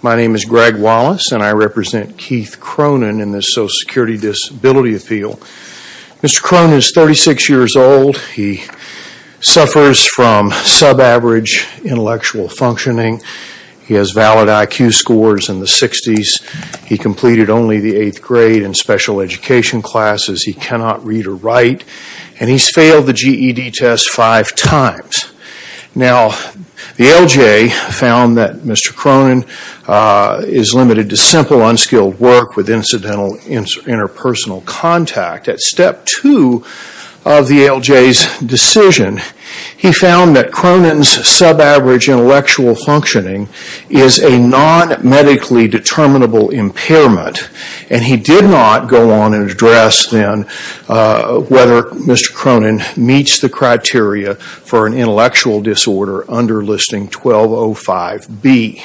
My name is Greg Wallace, and I represent Keith Cronin in the Social Security Disability Appeal. Mr. Cronin is 36 years old. He suffers from sub-average intellectual functioning. He has valid IQ scores in the 60s. He completed only the 8th grade in special education classes. He cannot read or write, and he's failed the GED test five times. Now, the ALJ found that Mr. Cronin is limited to simple unskilled work with incidental interpersonal contact. At step two of the ALJ's decision, he found that Cronin's sub-average intellectual functioning is a non-medically determinable impairment, and he did not go on and address then whether Mr. Cronin meets the criteria for an intellectual disorder under Listing 1205B.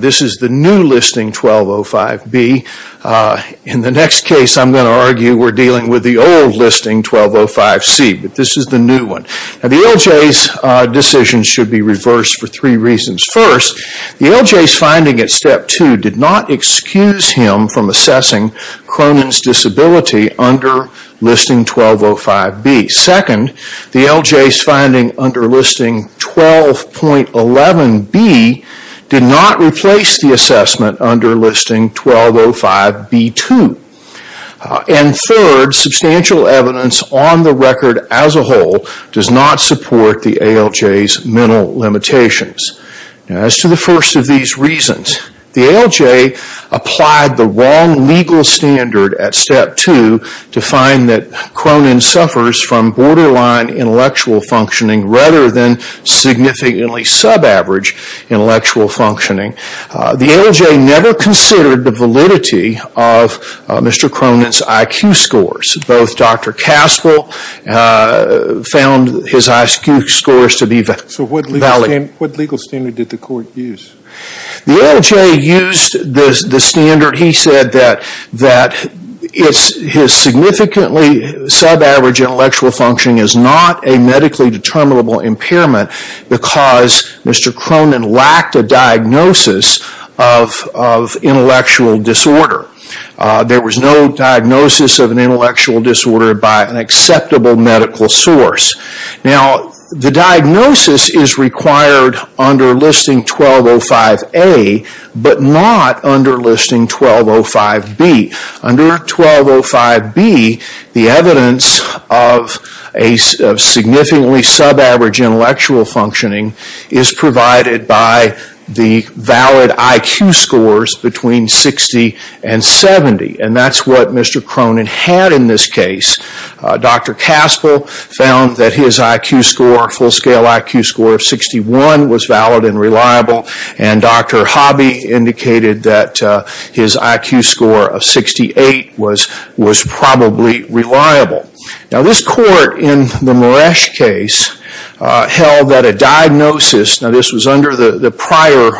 This is the new Listing 1205B. In the next case, I'm going to argue we're dealing with the old Listing 1205C, but this is the new one. The ALJ's decision should be reversed for three reasons. First, the ALJ's finding at step two did not excuse him from assessing Cronin's disability under Listing 1205B. Second, the ALJ's finding under Listing 12.11B did not replace the assessment under Listing 1205B2. And third, substantial evidence on the record as a whole does not support the ALJ's mental limitations. As to the first of these reasons, the ALJ applied the wrong legal standard at step two to find that Cronin suffers from borderline intellectual functioning rather than significantly sub-average intellectual functioning. The ALJ never considered the validity of Mr. Cronin's IQ scores. Both Dr. Caspel found his IQ scores to be valid. So what legal standard did the court use? The ALJ used the standard, he said that his significantly sub-average intellectual functioning is not a medically determinable impairment because Mr. Cronin lacked a diagnosis of intellectual disorder. There was no diagnosis of an intellectual disorder by an acceptable medical source. Now the diagnosis is required under Listing 1205A, but not under Listing 1205B. Under 1205B, the evidence of a significantly sub-average intellectual functioning is provided by the valid IQ scores between 60 and 70, and that's what Mr. Cronin had in this case. Dr. Caspel found that his IQ score, full-scale IQ score of 61, was valid and reliable, and Dr. Hobby indicated that his IQ score of 68 was probably reliable. Now this court in the Maresh case held that a diagnosis, now this was under the prior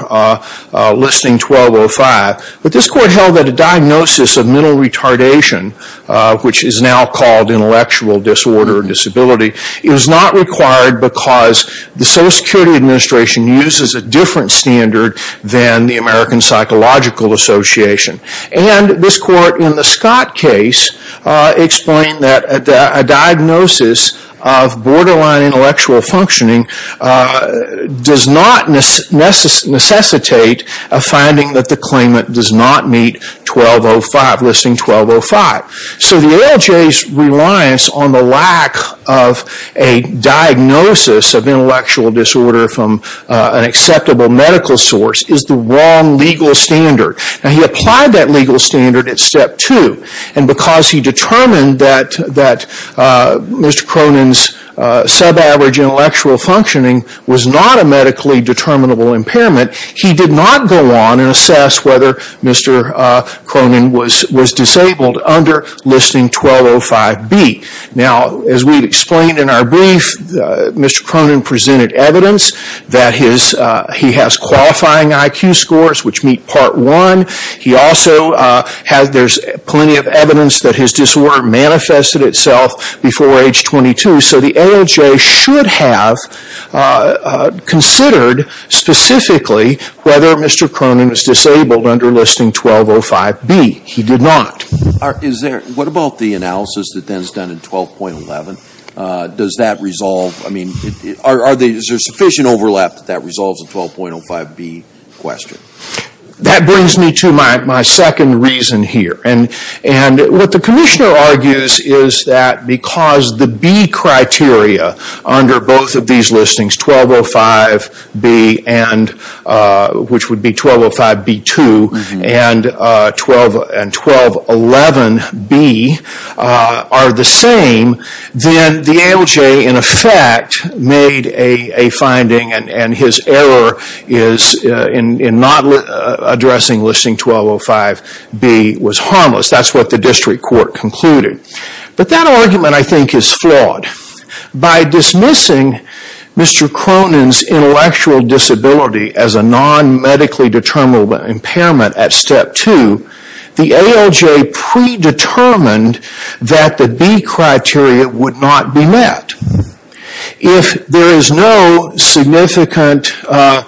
Listing 1205, but this court held that a diagnosis of mental retardation, which is now called intellectual disorder and disability, is not required because the Social Security Administration uses a different standard than the American Psychological Association, and this court in the Scott case explained that a diagnosis of borderline intellectual functioning does not necessitate a finding that the claimant does not meet Listing 1205. So the ALJ's reliance on the lack of a diagnosis of intellectual disorder from an acceptable medical source is the wrong legal standard. Now he applied that legal standard at Step 2, and because he determined that Mr. Cronin's sub-average intellectual functioning was not a medically determinable impairment, he did not go on and assess whether Mr. Cronin was disabled under Listing 1205B. Now as we explained in our brief, Mr. Cronin presented evidence that he has qualifying IQ scores, which meet Part 1. He also has plenty of evidence that his disorder manifested itself before age 22. So the ALJ should have considered specifically whether Mr. Cronin was disabled under Listing 1205B. He did not. What about the analysis that then is done in 12.11? Is there sufficient overlap that that resolves the 12.05B question? That brings me to my second reason here. And what the Commissioner argues is that because the B criteria under both of these listings, 1205B and which would be 1205B2 and 12.11B are the same, then the ALJ in effect made a finding and his error in not addressing Listing 1205B was harmless. That's what the District Court concluded. But that argument I think is flawed. By dismissing Mr. Cronin's intellectual disability as a non-medically determinable impairment at Step 2, the ALJ predetermined that the B criteria would not be met. If there is no significant intellectual,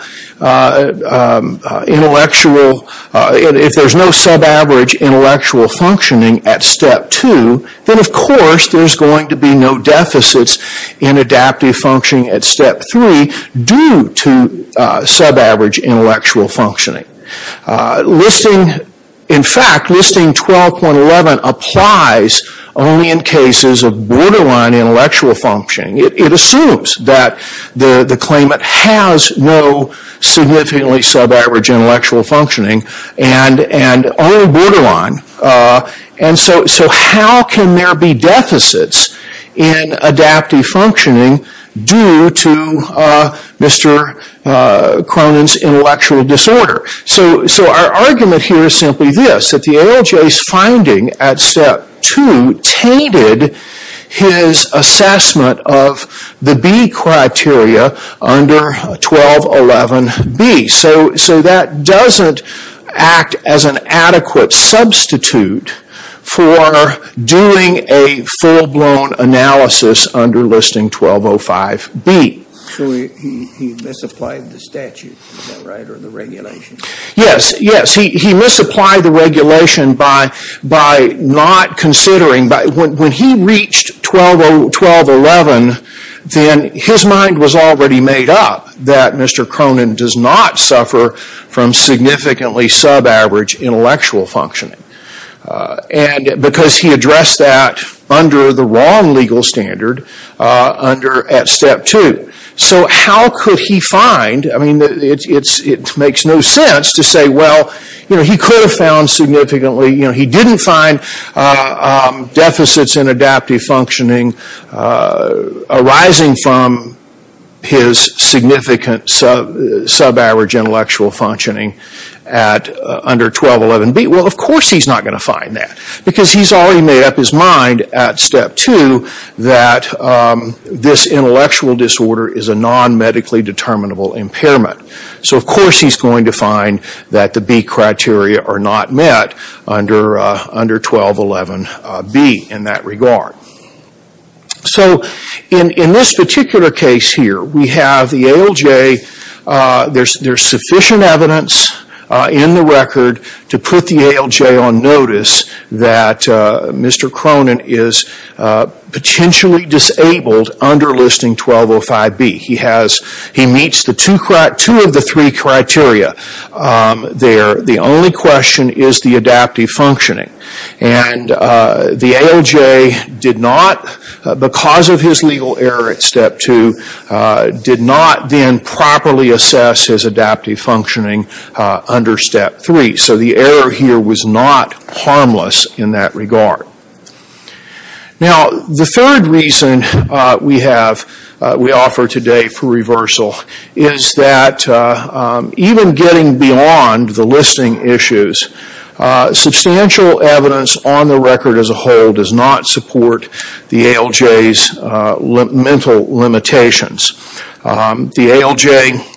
if there is no sub-average intellectual functioning at Step 2, then of course there is going to be no deficits in adaptive functioning at Step 3 due to sub-average intellectual functioning. In fact, Listing 12.11 applies only in cases of borderline intellectual functioning. It assumes that the claimant has no significantly sub-average intellectual functioning and only sub-average intellectual functioning. So how can there be deficits in adaptive functioning due to Mr. Cronin's intellectual disorder? So our argument here is simply this, that the ALJ's finding at Step 2 tainted his assessment of the B criteria under 12.11B. So that doesn't act as an adequate substitute for doing a full-blown analysis under Listing 12.05B. So he misapplied the statute, is that right, or the regulation? Yes, yes. He misapplied the regulation by not considering, when he reached 12.11, then his mind was already made up that Mr. Cronin does not suffer from significantly sub-average intellectual functioning. And because he addressed that under the wrong legal standard at Step 2. So how could he find, I mean, it makes no sense to say, well, he could have found significantly, he didn't find deficits in adaptive functioning arising from his significant sub-average intellectual functioning under 12.11B. Well, of course he's not going to find that, because he's already made up his mind at Step 2 that this intellectual disorder is a non-medically determinable impairment. So of course he's going to find that the B criteria are not met under 12.11B in that regard. So in this particular case here, we have the ALJ, there's sufficient evidence in the record to put the ALJ on notice that Mr. Cronin is potentially disabled under Listing 12.05B. He meets two of the three criteria there. The only question is the adaptive functioning. And the ALJ did not, because of his legal error at Step 2, did not then properly assess his adaptive functioning under Step 3. So the error here was not harmless in that regard. Now, the third reason we have, we offer today for reversal, is that even getting beyond the listing issues, substantial evidence on the record as a whole does not support the ALJ's mental limitations. The ALJ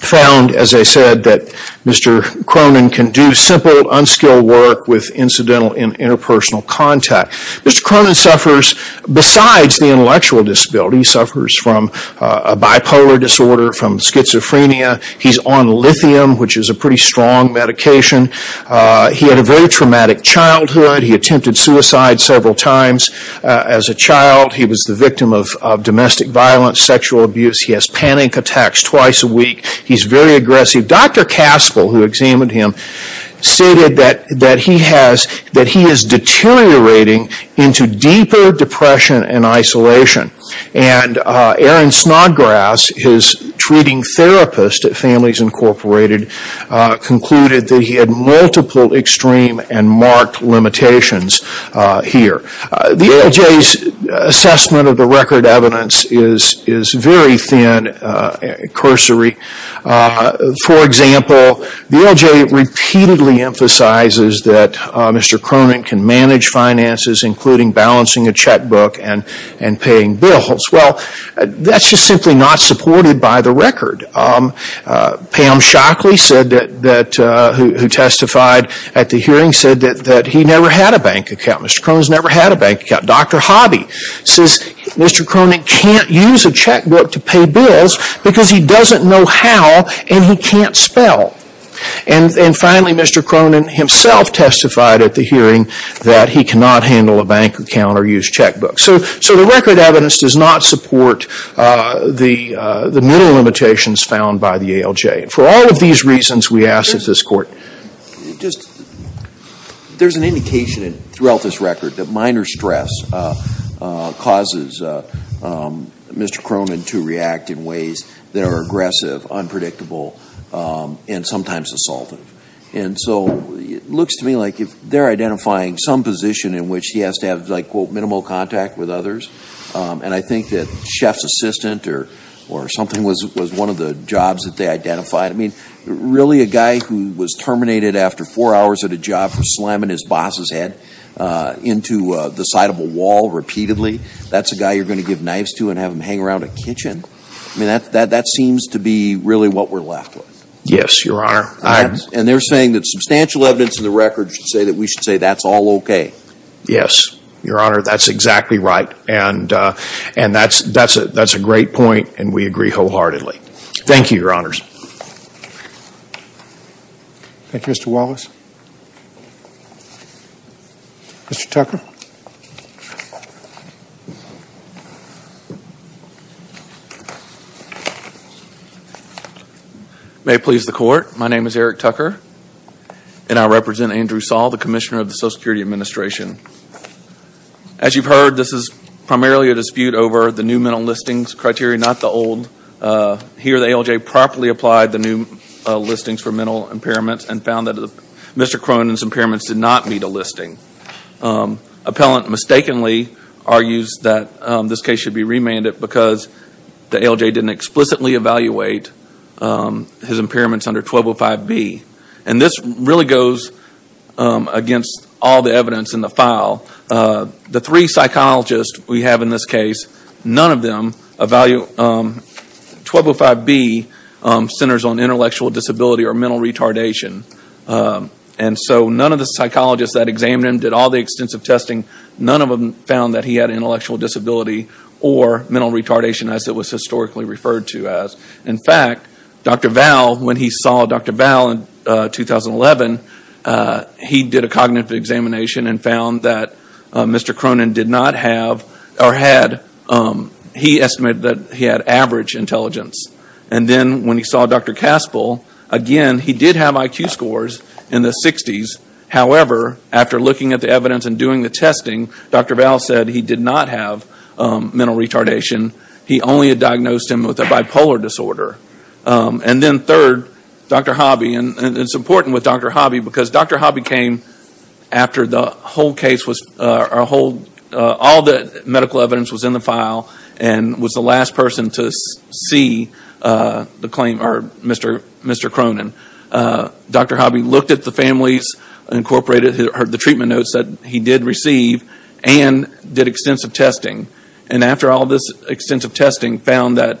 found, as I said, that Mr. Cronin can do simple, unskilled work with incidental and interpersonal contact. Mr. Cronin suffers, besides the intellectual disability, suffers from a bipolar disorder, from schizophrenia. He's on lithium, which is a pretty strong medication. He had a very traumatic childhood. He attempted suicide several times as a child. He was the victim of domestic violence, sexual abuse. He has panic attacks twice a week. He's very aggressive. Dr. Caspel, who examined him, stated that he is deteriorating into deeper depression and isolation. And Aaron Snodgrass, his treating therapist at Families Incorporated, concluded that he had multiple extreme and marked limitations here. The ALJ's assessment of the record evidence is very thin and cursory. For example, the ALJ repeatedly emphasizes that Mr. Cronin can manage finances, including balancing a checkbook and paying bills. Well, that's just simply not supported by the record. Pam Shockley, who testified at the hearing, said that he never had a bank account. Mr. Cronin's never had a bank account. Dr. Hobby says Mr. Cronin can't use a checkbook to pay bills because he doesn't know how and he can't spell. And finally, Mr. Cronin himself testified at the hearing that he cannot handle a bank account or use checkbooks. So the record evidence does not support the mental limitations found by the ALJ. For all of these reasons, we ask that this court... There's an indication throughout this record that minor stress causes Mr. Cronin to react in ways that are aggressive, unpredictable, and sometimes assaultive. And so it looks to me like if they're identifying some position in which he has to have, like, quote, minimal contact with others, and I think that chef's assistant or something was one of the jobs that they identified. I mean, really a guy who was terminated after four hours at a job for slamming his boss's head into the side of a wall repeatedly, that's a guy you're going to give knives to and have him hang around a kitchen? I mean, that seems to be really what we're left with. Yes, Your Honor. And they're saying that substantial evidence in the record should say that we should say that's all okay. Yes, Your Honor, that's exactly right. And that's a great point and we agree wholeheartedly. Thank you, Your Honors. Thank you, Mr. Wallace. Mr. Tucker. May it please the Court, my name is Eric Tucker and I represent Andrew Saul, the Commissioner of the Social Security Administration. As you've heard, this is primarily a dispute over the new mental listings criteria, not the old. Here, the ALJ properly applied the new listings for mental impairments and found that Mr. Cronin's impairments did not meet a listing. Appellant mistakenly argues that this case should be remanded because the ALJ didn't explicitly evaluate his impairments under 1205B. And this really goes against all the evidence in the file. The three psychologists we have in this case, none of them evaluate 1205B centers on intellectual disability or mental retardation. And so none of the psychologists that examined him did all the extensive testing. None of them found that he had intellectual disability or mental retardation as it was historically referred to as. In fact, Dr. Val, when he saw Dr. Val in 2011, he did a cognitive examination and found that Mr. Cronin did not have or had, he estimated that he had average intelligence. And then when he saw Dr. Caspel, again, he did have IQ scores in the 60s. However, after looking at the evidence and doing the testing, Dr. Val said he did not have mental retardation. He only had diagnosed him with a bipolar disorder. And then third, Dr. Hobby, and it's important with Dr. Hobby because Dr. Hobby came after the whole case, all the medical evidence was in the file and was the last person to see the claim, or Mr. Cronin. Dr. Hobby looked at the families, incorporated the treatment notes that he did receive, and did extensive testing. And after all this extensive testing, found that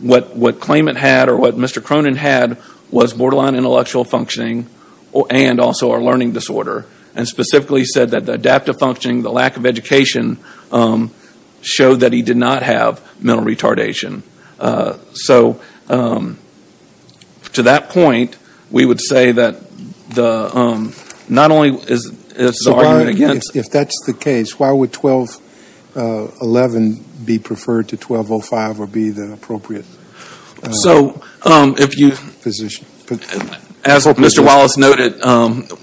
what claimant had or what Mr. Cronin had was borderline intellectual functioning and also a learning disorder. And specifically said that the adaptive functioning, the lack of education, showed that he did not have mental retardation. So to that point, we would say that not only is the argument against... If that's the case, why would 12-11 be preferred to 12-05 or be the appropriate position? As Mr. Wallace noted,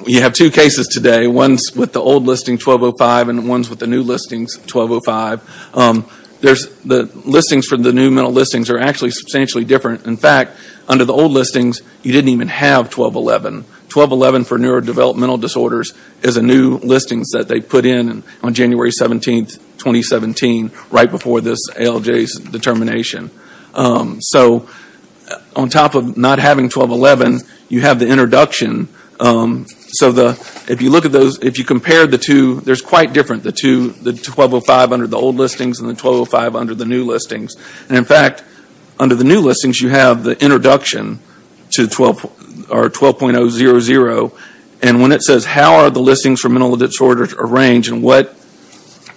you have two cases today. One's with the old listing 12-05 and one's with the new listings 12-05. The listings for the new mental listings are actually substantially different. In fact, under the old listings, you didn't even have 12-11. 12-11 for neurodevelopmental disorders is a new listings that they put in on January 17, 2017, right before this ALJ's determination. So on top of not having 12-11, you have the introduction. So if you look at those, if you compare the two, there's quite different. The 12-05 under the old listings and the 12-05 under the new listings. And in fact, under the new listings, you have the introduction to 12.0-0-0. And when it says, how are the listings for mental disorders arranged and what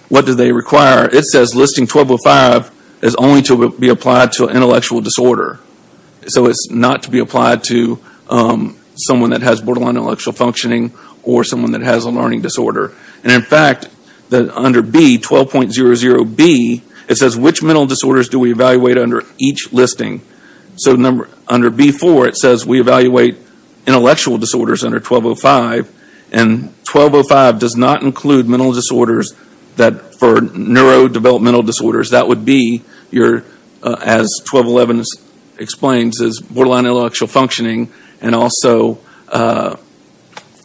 do they require? It says listing 12-05 is only to be applied to an intellectual disorder. So it's not to be applied to someone that has borderline intellectual functioning or someone that has a learning disorder. And in fact, under B, 12.0-0-B, it says which mental disorders do we evaluate under each listing? So under B-4, it says we evaluate intellectual disorders under 12-05. And 12-05 does not include mental disorders for neurodevelopmental disorders. That would be, as 12-11 explains, is borderline intellectual functioning. And also,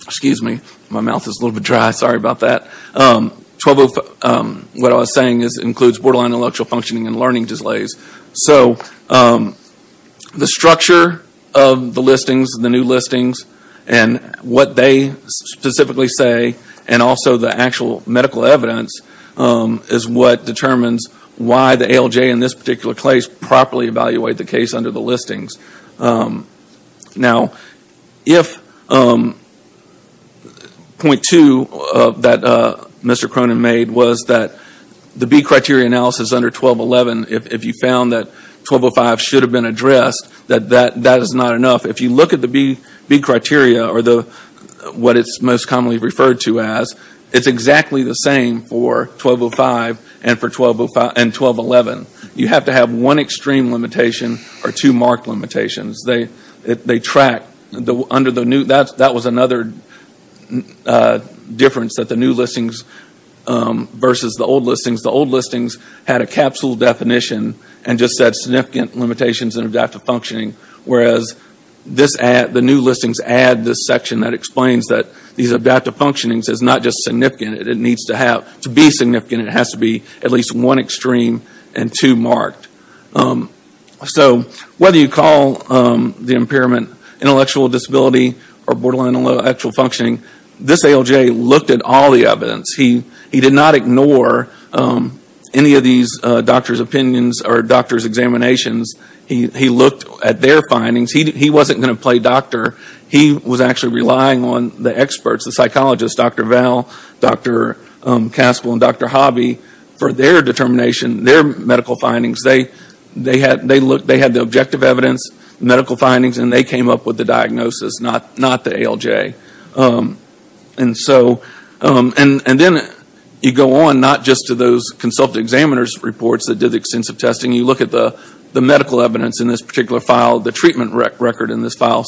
excuse me, my mouth is a little bit dry, sorry about that. What I was saying is it includes borderline intellectual functioning and learning delays. So the structure of the listings, the new listings, and what they specifically say, and also the actual medical evidence is what determines why the ALJ in this particular case properly evaluate the case under the listings. Now, if point two that Mr. Cronin made was that the B criteria analysis under 12-11, if you found that 12-05 should have been addressed, that that is not enough. If you look at the B criteria, or what it's most commonly referred to as, it's exactly the same for 12-05 and 12-11. You have to have one extreme limitation or two marked limitations. That was another difference that the new listings versus the old listings. The old listings had a capsule definition and just said, significant limitations in adaptive functioning. Whereas the new listings add this section that explains that these adaptive functionings is not just significant, it needs to be significant. It has to be at least one extreme and two marked. So whether you call the impairment intellectual disability or borderline intellectual functioning, this ALJ looked at all the evidence. He did not ignore any of these doctor's opinions or doctor's examinations. He looked at their findings. He wasn't going to play doctor. He was actually relying on the experts, the psychologists, Dr. Val, Dr. Caspel and Dr. Hobby, for their determination, their medical findings. They had the objective evidence, medical findings, and they came up with the diagnosis, not the ALJ. Then you go on, not just to those consultant examiner's reports that did extensive testing. You look at the medical evidence in this particular file, the treatment record in this file.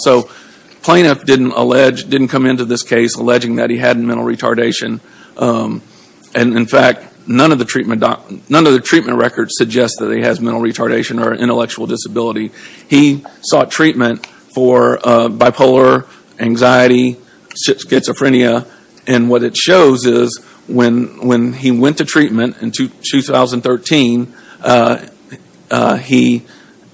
Plaintiff didn't come into this case alleging that he had mental retardation. In fact, none of the treatment records suggest that he has mental retardation or intellectual disability. He sought treatment for bipolar, anxiety, schizophrenia. What it shows is when he went to treatment in 2013, he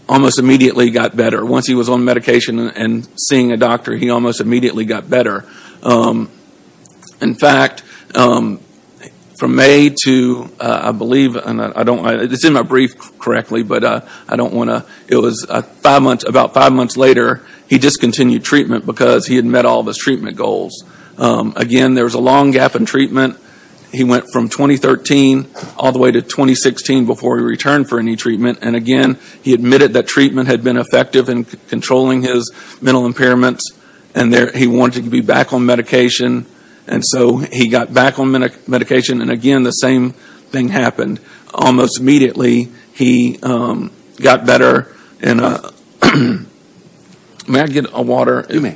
almost immediately got better. Once he was on medication and seeing a doctor, he almost immediately got better. In fact, from May to about five months later, he discontinued treatment because he had met all of his treatment goals. Again, there was a long gap in treatment. He went from 2013 all the way to 2016 before he returned for any treatment. Again, he admitted that treatment had been effective in controlling his mental impairments. He wanted to be back on medication, and so he got back on medication. Again, the same thing happened. Almost immediately, he got better. May I get a water? I didn't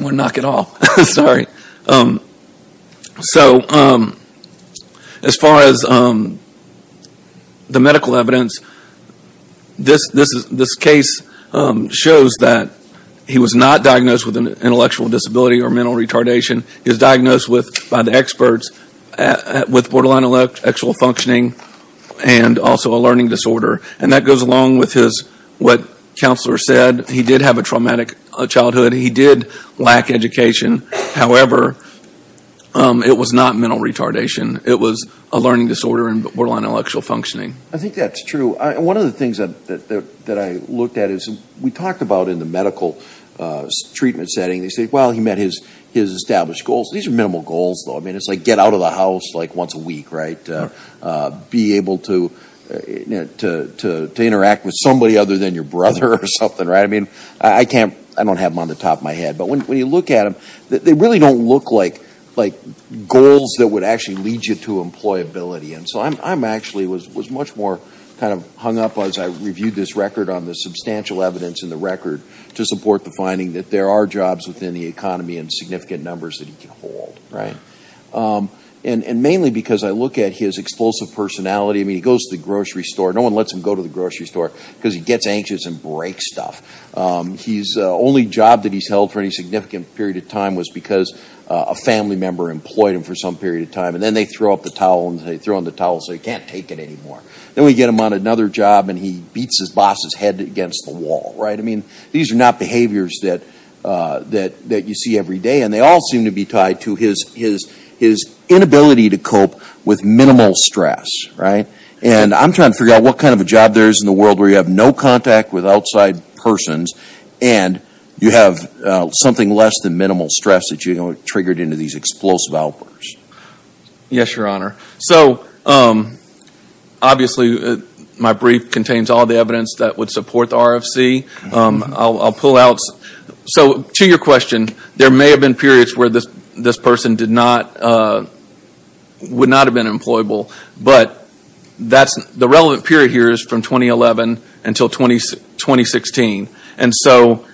want to knock it off. Sorry. As far as the medical evidence, this case shows that he was not diagnosed with an intellectual disability or mental retardation. He was diagnosed by the experts with borderline intellectual functioning and also a learning disorder. That goes along with what Counselor said. He did have a traumatic childhood. He did lack education. However, it was not mental retardation. It was a learning disorder and borderline intellectual functioning. I think that's true. One of the things that I looked at is we talked about in the medical treatment setting, they say, well, he met his established goals. These are minimal goals, though. I mean, it's like get out of the house like once a week, right? Be able to interact with somebody other than your brother or something, right? I mean, I don't have them on the top of my head. But when you look at them, they really don't look like goals that would actually lead you to employability. And so I actually was much more kind of hung up as I reviewed this record on the substantial evidence in the record to support the finding that there are jobs within the economy in significant numbers that he can hold, right? And mainly because I look at his explosive personality. I mean, he goes to the grocery store. No one lets him go to the grocery store because he gets anxious and breaks stuff. The only job that he's held for any significant period of time was because a family member employed him for some period of time. And then they throw up the towel and they throw in the towel and say, you can't take it anymore. Then we get him on another job and he beats his boss's head against the wall, right? I mean, these are not behaviors that you see every day. And they all seem to be tied to his inability to cope with minimal stress, right? And I'm trying to figure out what kind of a job there is in the world where you have no contact with outside persons and you have something less than minimal stress that you triggered into these explosive outbursts. Yes, Your Honor. So, obviously, my brief contains all the evidence that would support the RFC. I'll pull out. So, to your question, there may have been periods where this person would not have been employable. But the relevant period here is from 2011 until 2016. And so,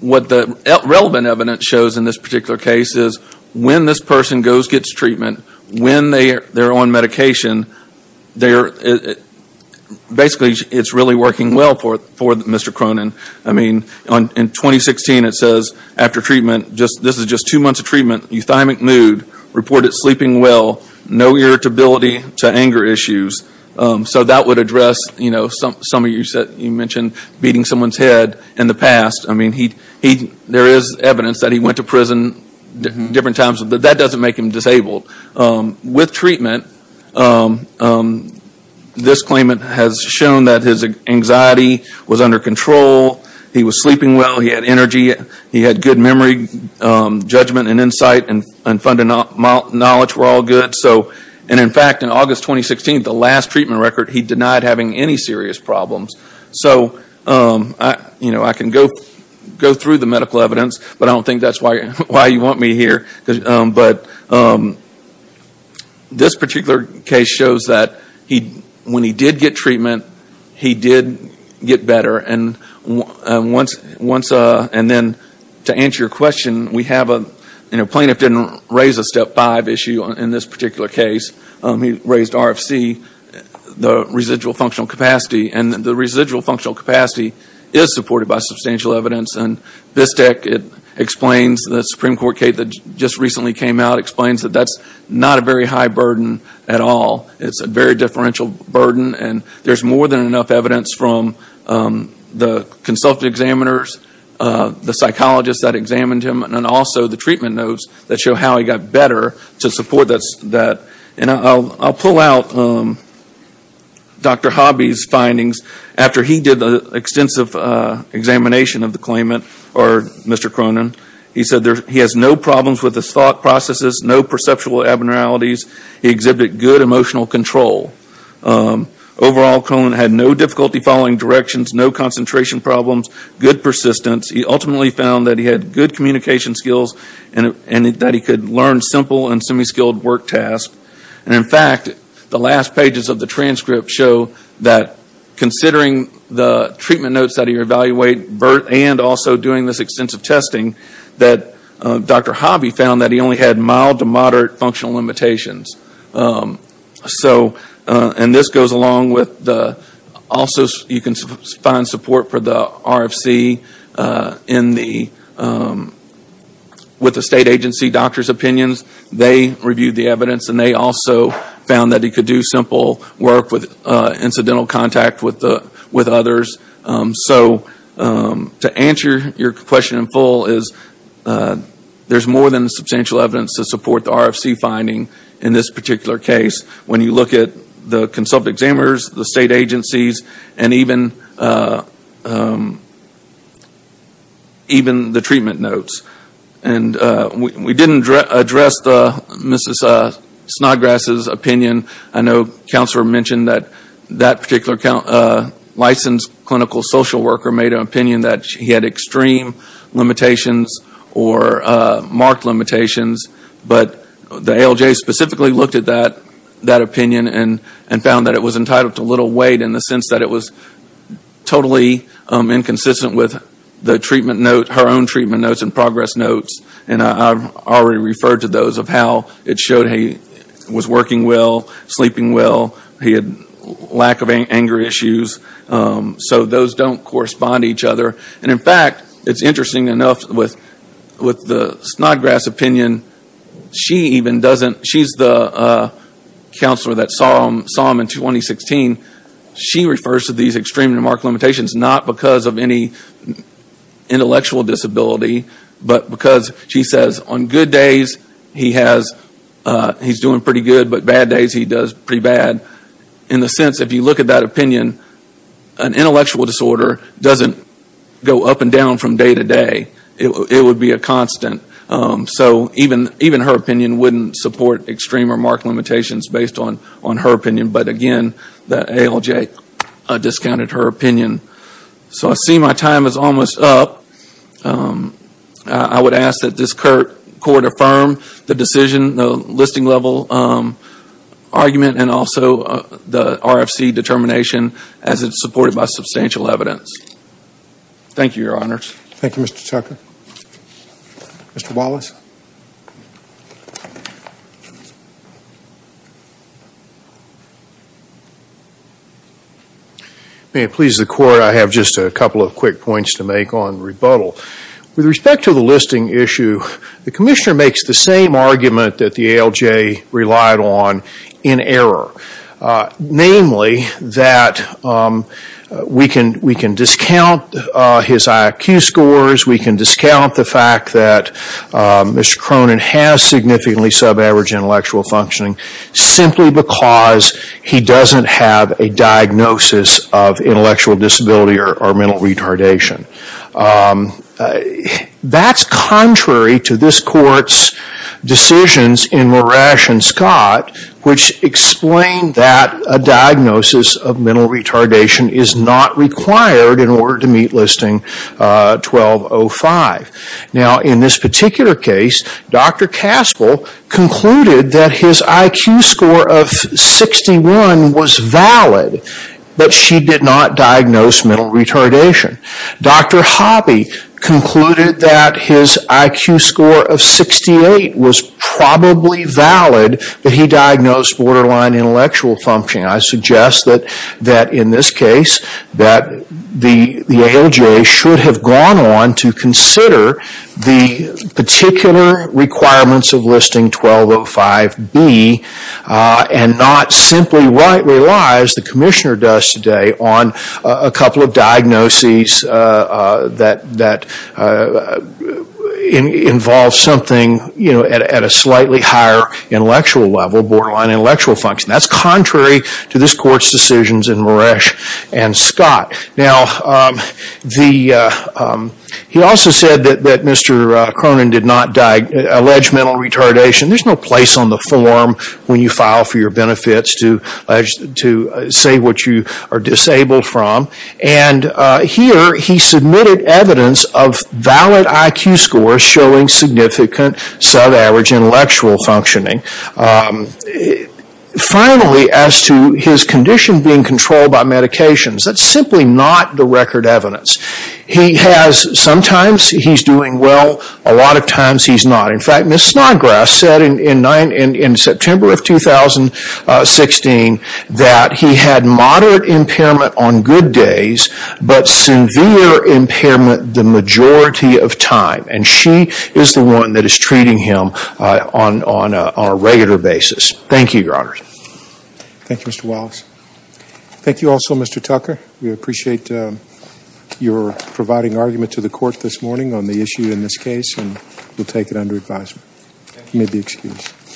what the relevant evidence shows in this particular case is when this person goes and gets treatment, when they're on medication, basically, it's really working well for Mr. Cronin. I mean, in 2016, it says, after treatment, this is just two months of treatment, euthymic mood, reported sleeping well, no irritability to anger issues. So, that would address, you know, some of you mentioned beating someone's head in the past. I mean, there is evidence that he went to prison different times. But that doesn't make him disabled. With treatment, this claimant has shown that his anxiety was under control. He was sleeping well. He had energy. He had good memory, judgment, and insight, and fundamental knowledge were all good. And, in fact, in August 2016, the last treatment record, he denied having any serious problems. So, you know, I can go through the medical evidence, but I don't think that's why you want me here. But this particular case shows that when he did get treatment, he did get better. And then, to answer your question, we have a, you know, plaintiff didn't raise a step five issue in this particular case. He raised RFC, the residual functional capacity. And the residual functional capacity is supported by substantial evidence. And this deck, it explains, the Supreme Court case that just recently came out explains that that's not a very high burden at all. It's a very differential burden. And there's more than enough evidence from the consultant examiners, the psychologists that examined him, and also the treatment notes that show how he got better to support that. And I'll pull out Dr. Hobby's findings. After he did the extensive examination of the claimant, or Mr. Cronin, he said he has no problems with his thought processes, no perceptual abnormalities. He exhibited good emotional control. Overall, Cronin had no difficulty following directions, no concentration problems, good persistence. He ultimately found that he had good communication skills, and that he could learn simple and semi-skilled work tasks. And in fact, the last pages of the transcript show that, considering the treatment notes that he evaluated, and also doing this extensive testing, that Dr. Hobby found that he only had mild to moderate functional limitations. So, and this goes along with the, also you can find support for the RFC in the, with the state agency doctor's opinions. They reviewed the evidence, and they also found that he could do simple work with incidental contact with others. So, to answer your question in full is, there's more than substantial evidence to support the RFC finding in this particular case when you look at the consult examiners, the state agencies, and even the treatment notes. And we didn't address Mrs. Snodgrass's opinion. I know counselor mentioned that that particular licensed clinical social worker made an opinion that he had extreme limitations or marked limitations. But the ALJ specifically looked at that opinion and found that it was entitled to little weight in the sense that it was totally inconsistent with the treatment note, her own treatment notes and progress notes. And I've already referred to those of how it showed he was working well, sleeping well, he had lack of anger issues. So those don't correspond to each other. And in fact, it's interesting enough with the Snodgrass opinion, she even doesn't, she's the counselor that saw him in 2016. She refers to these extreme and marked limitations not because of any intellectual disability, but because she says, on good days he has, he's doing pretty good, but bad days he does pretty bad. In the sense, if you look at that opinion, an intellectual disorder doesn't go up and down from day to day. It would be a constant. So even her opinion wouldn't support extreme or marked limitations based on her opinion. But again, the ALJ discounted her opinion. So I see my time is almost up. I would ask that this court affirm the decision, the listing level argument and also the RFC determination as it's supported by substantial evidence. Thank you, your honors. Thank you, Mr. Tucker. Mr. Wallace. May it please the court, I have just a couple of quick points to make on rebuttal. With respect to the listing issue, the commissioner makes the same argument that the ALJ relied on in error. Namely, that we can discount his IQ scores, we can discount the fact that Mr. Cronin has significantly sub-average intellectual functioning simply because he doesn't have a diagnosis of intellectual disability or mental retardation. That's contrary to this court's decisions in Moresh and Scott which explained that a diagnosis of mental retardation is not required in order to meet listing 1205. Now, in this particular case, Dr. Caspel concluded that his IQ score of 61 was valid, but she did not diagnose mental retardation. Dr. Hobby concluded that his IQ score of 68 was probably valid, but he diagnosed borderline intellectual functioning. I suggest that in this case, that the ALJ should have gone on to consider the particular requirements of listing 1205B and not simply rely, as the commissioner does today, on a couple of diagnoses that involve something at a slightly higher intellectual level, borderline intellectual functioning. That's contrary to this court's decisions in Moresh and Scott. Now, he also said that Mr. Cronin did not allege mental retardation. There's no place on the form when you file for your benefits to say what you are disabled from. And here, he submitted evidence of valid IQ scores showing significant sub-average intellectual functioning. Finally, as to his condition being controlled by medications, that's simply not the record evidence. Sometimes he's doing well, a lot of times he's not. In fact, Ms. Snodgrass said in September of 2016 that he had moderate impairment on good days, but severe impairment the majority of time. And she is the one that is treating him on a regular basis. Thank you, Your Honor. Thank you, Mr. Wallace. Thank you also, Mr. Tucker. We appreciate your providing argument to the court this morning on the issue in this case, and we'll take it under advisement. You may be excused.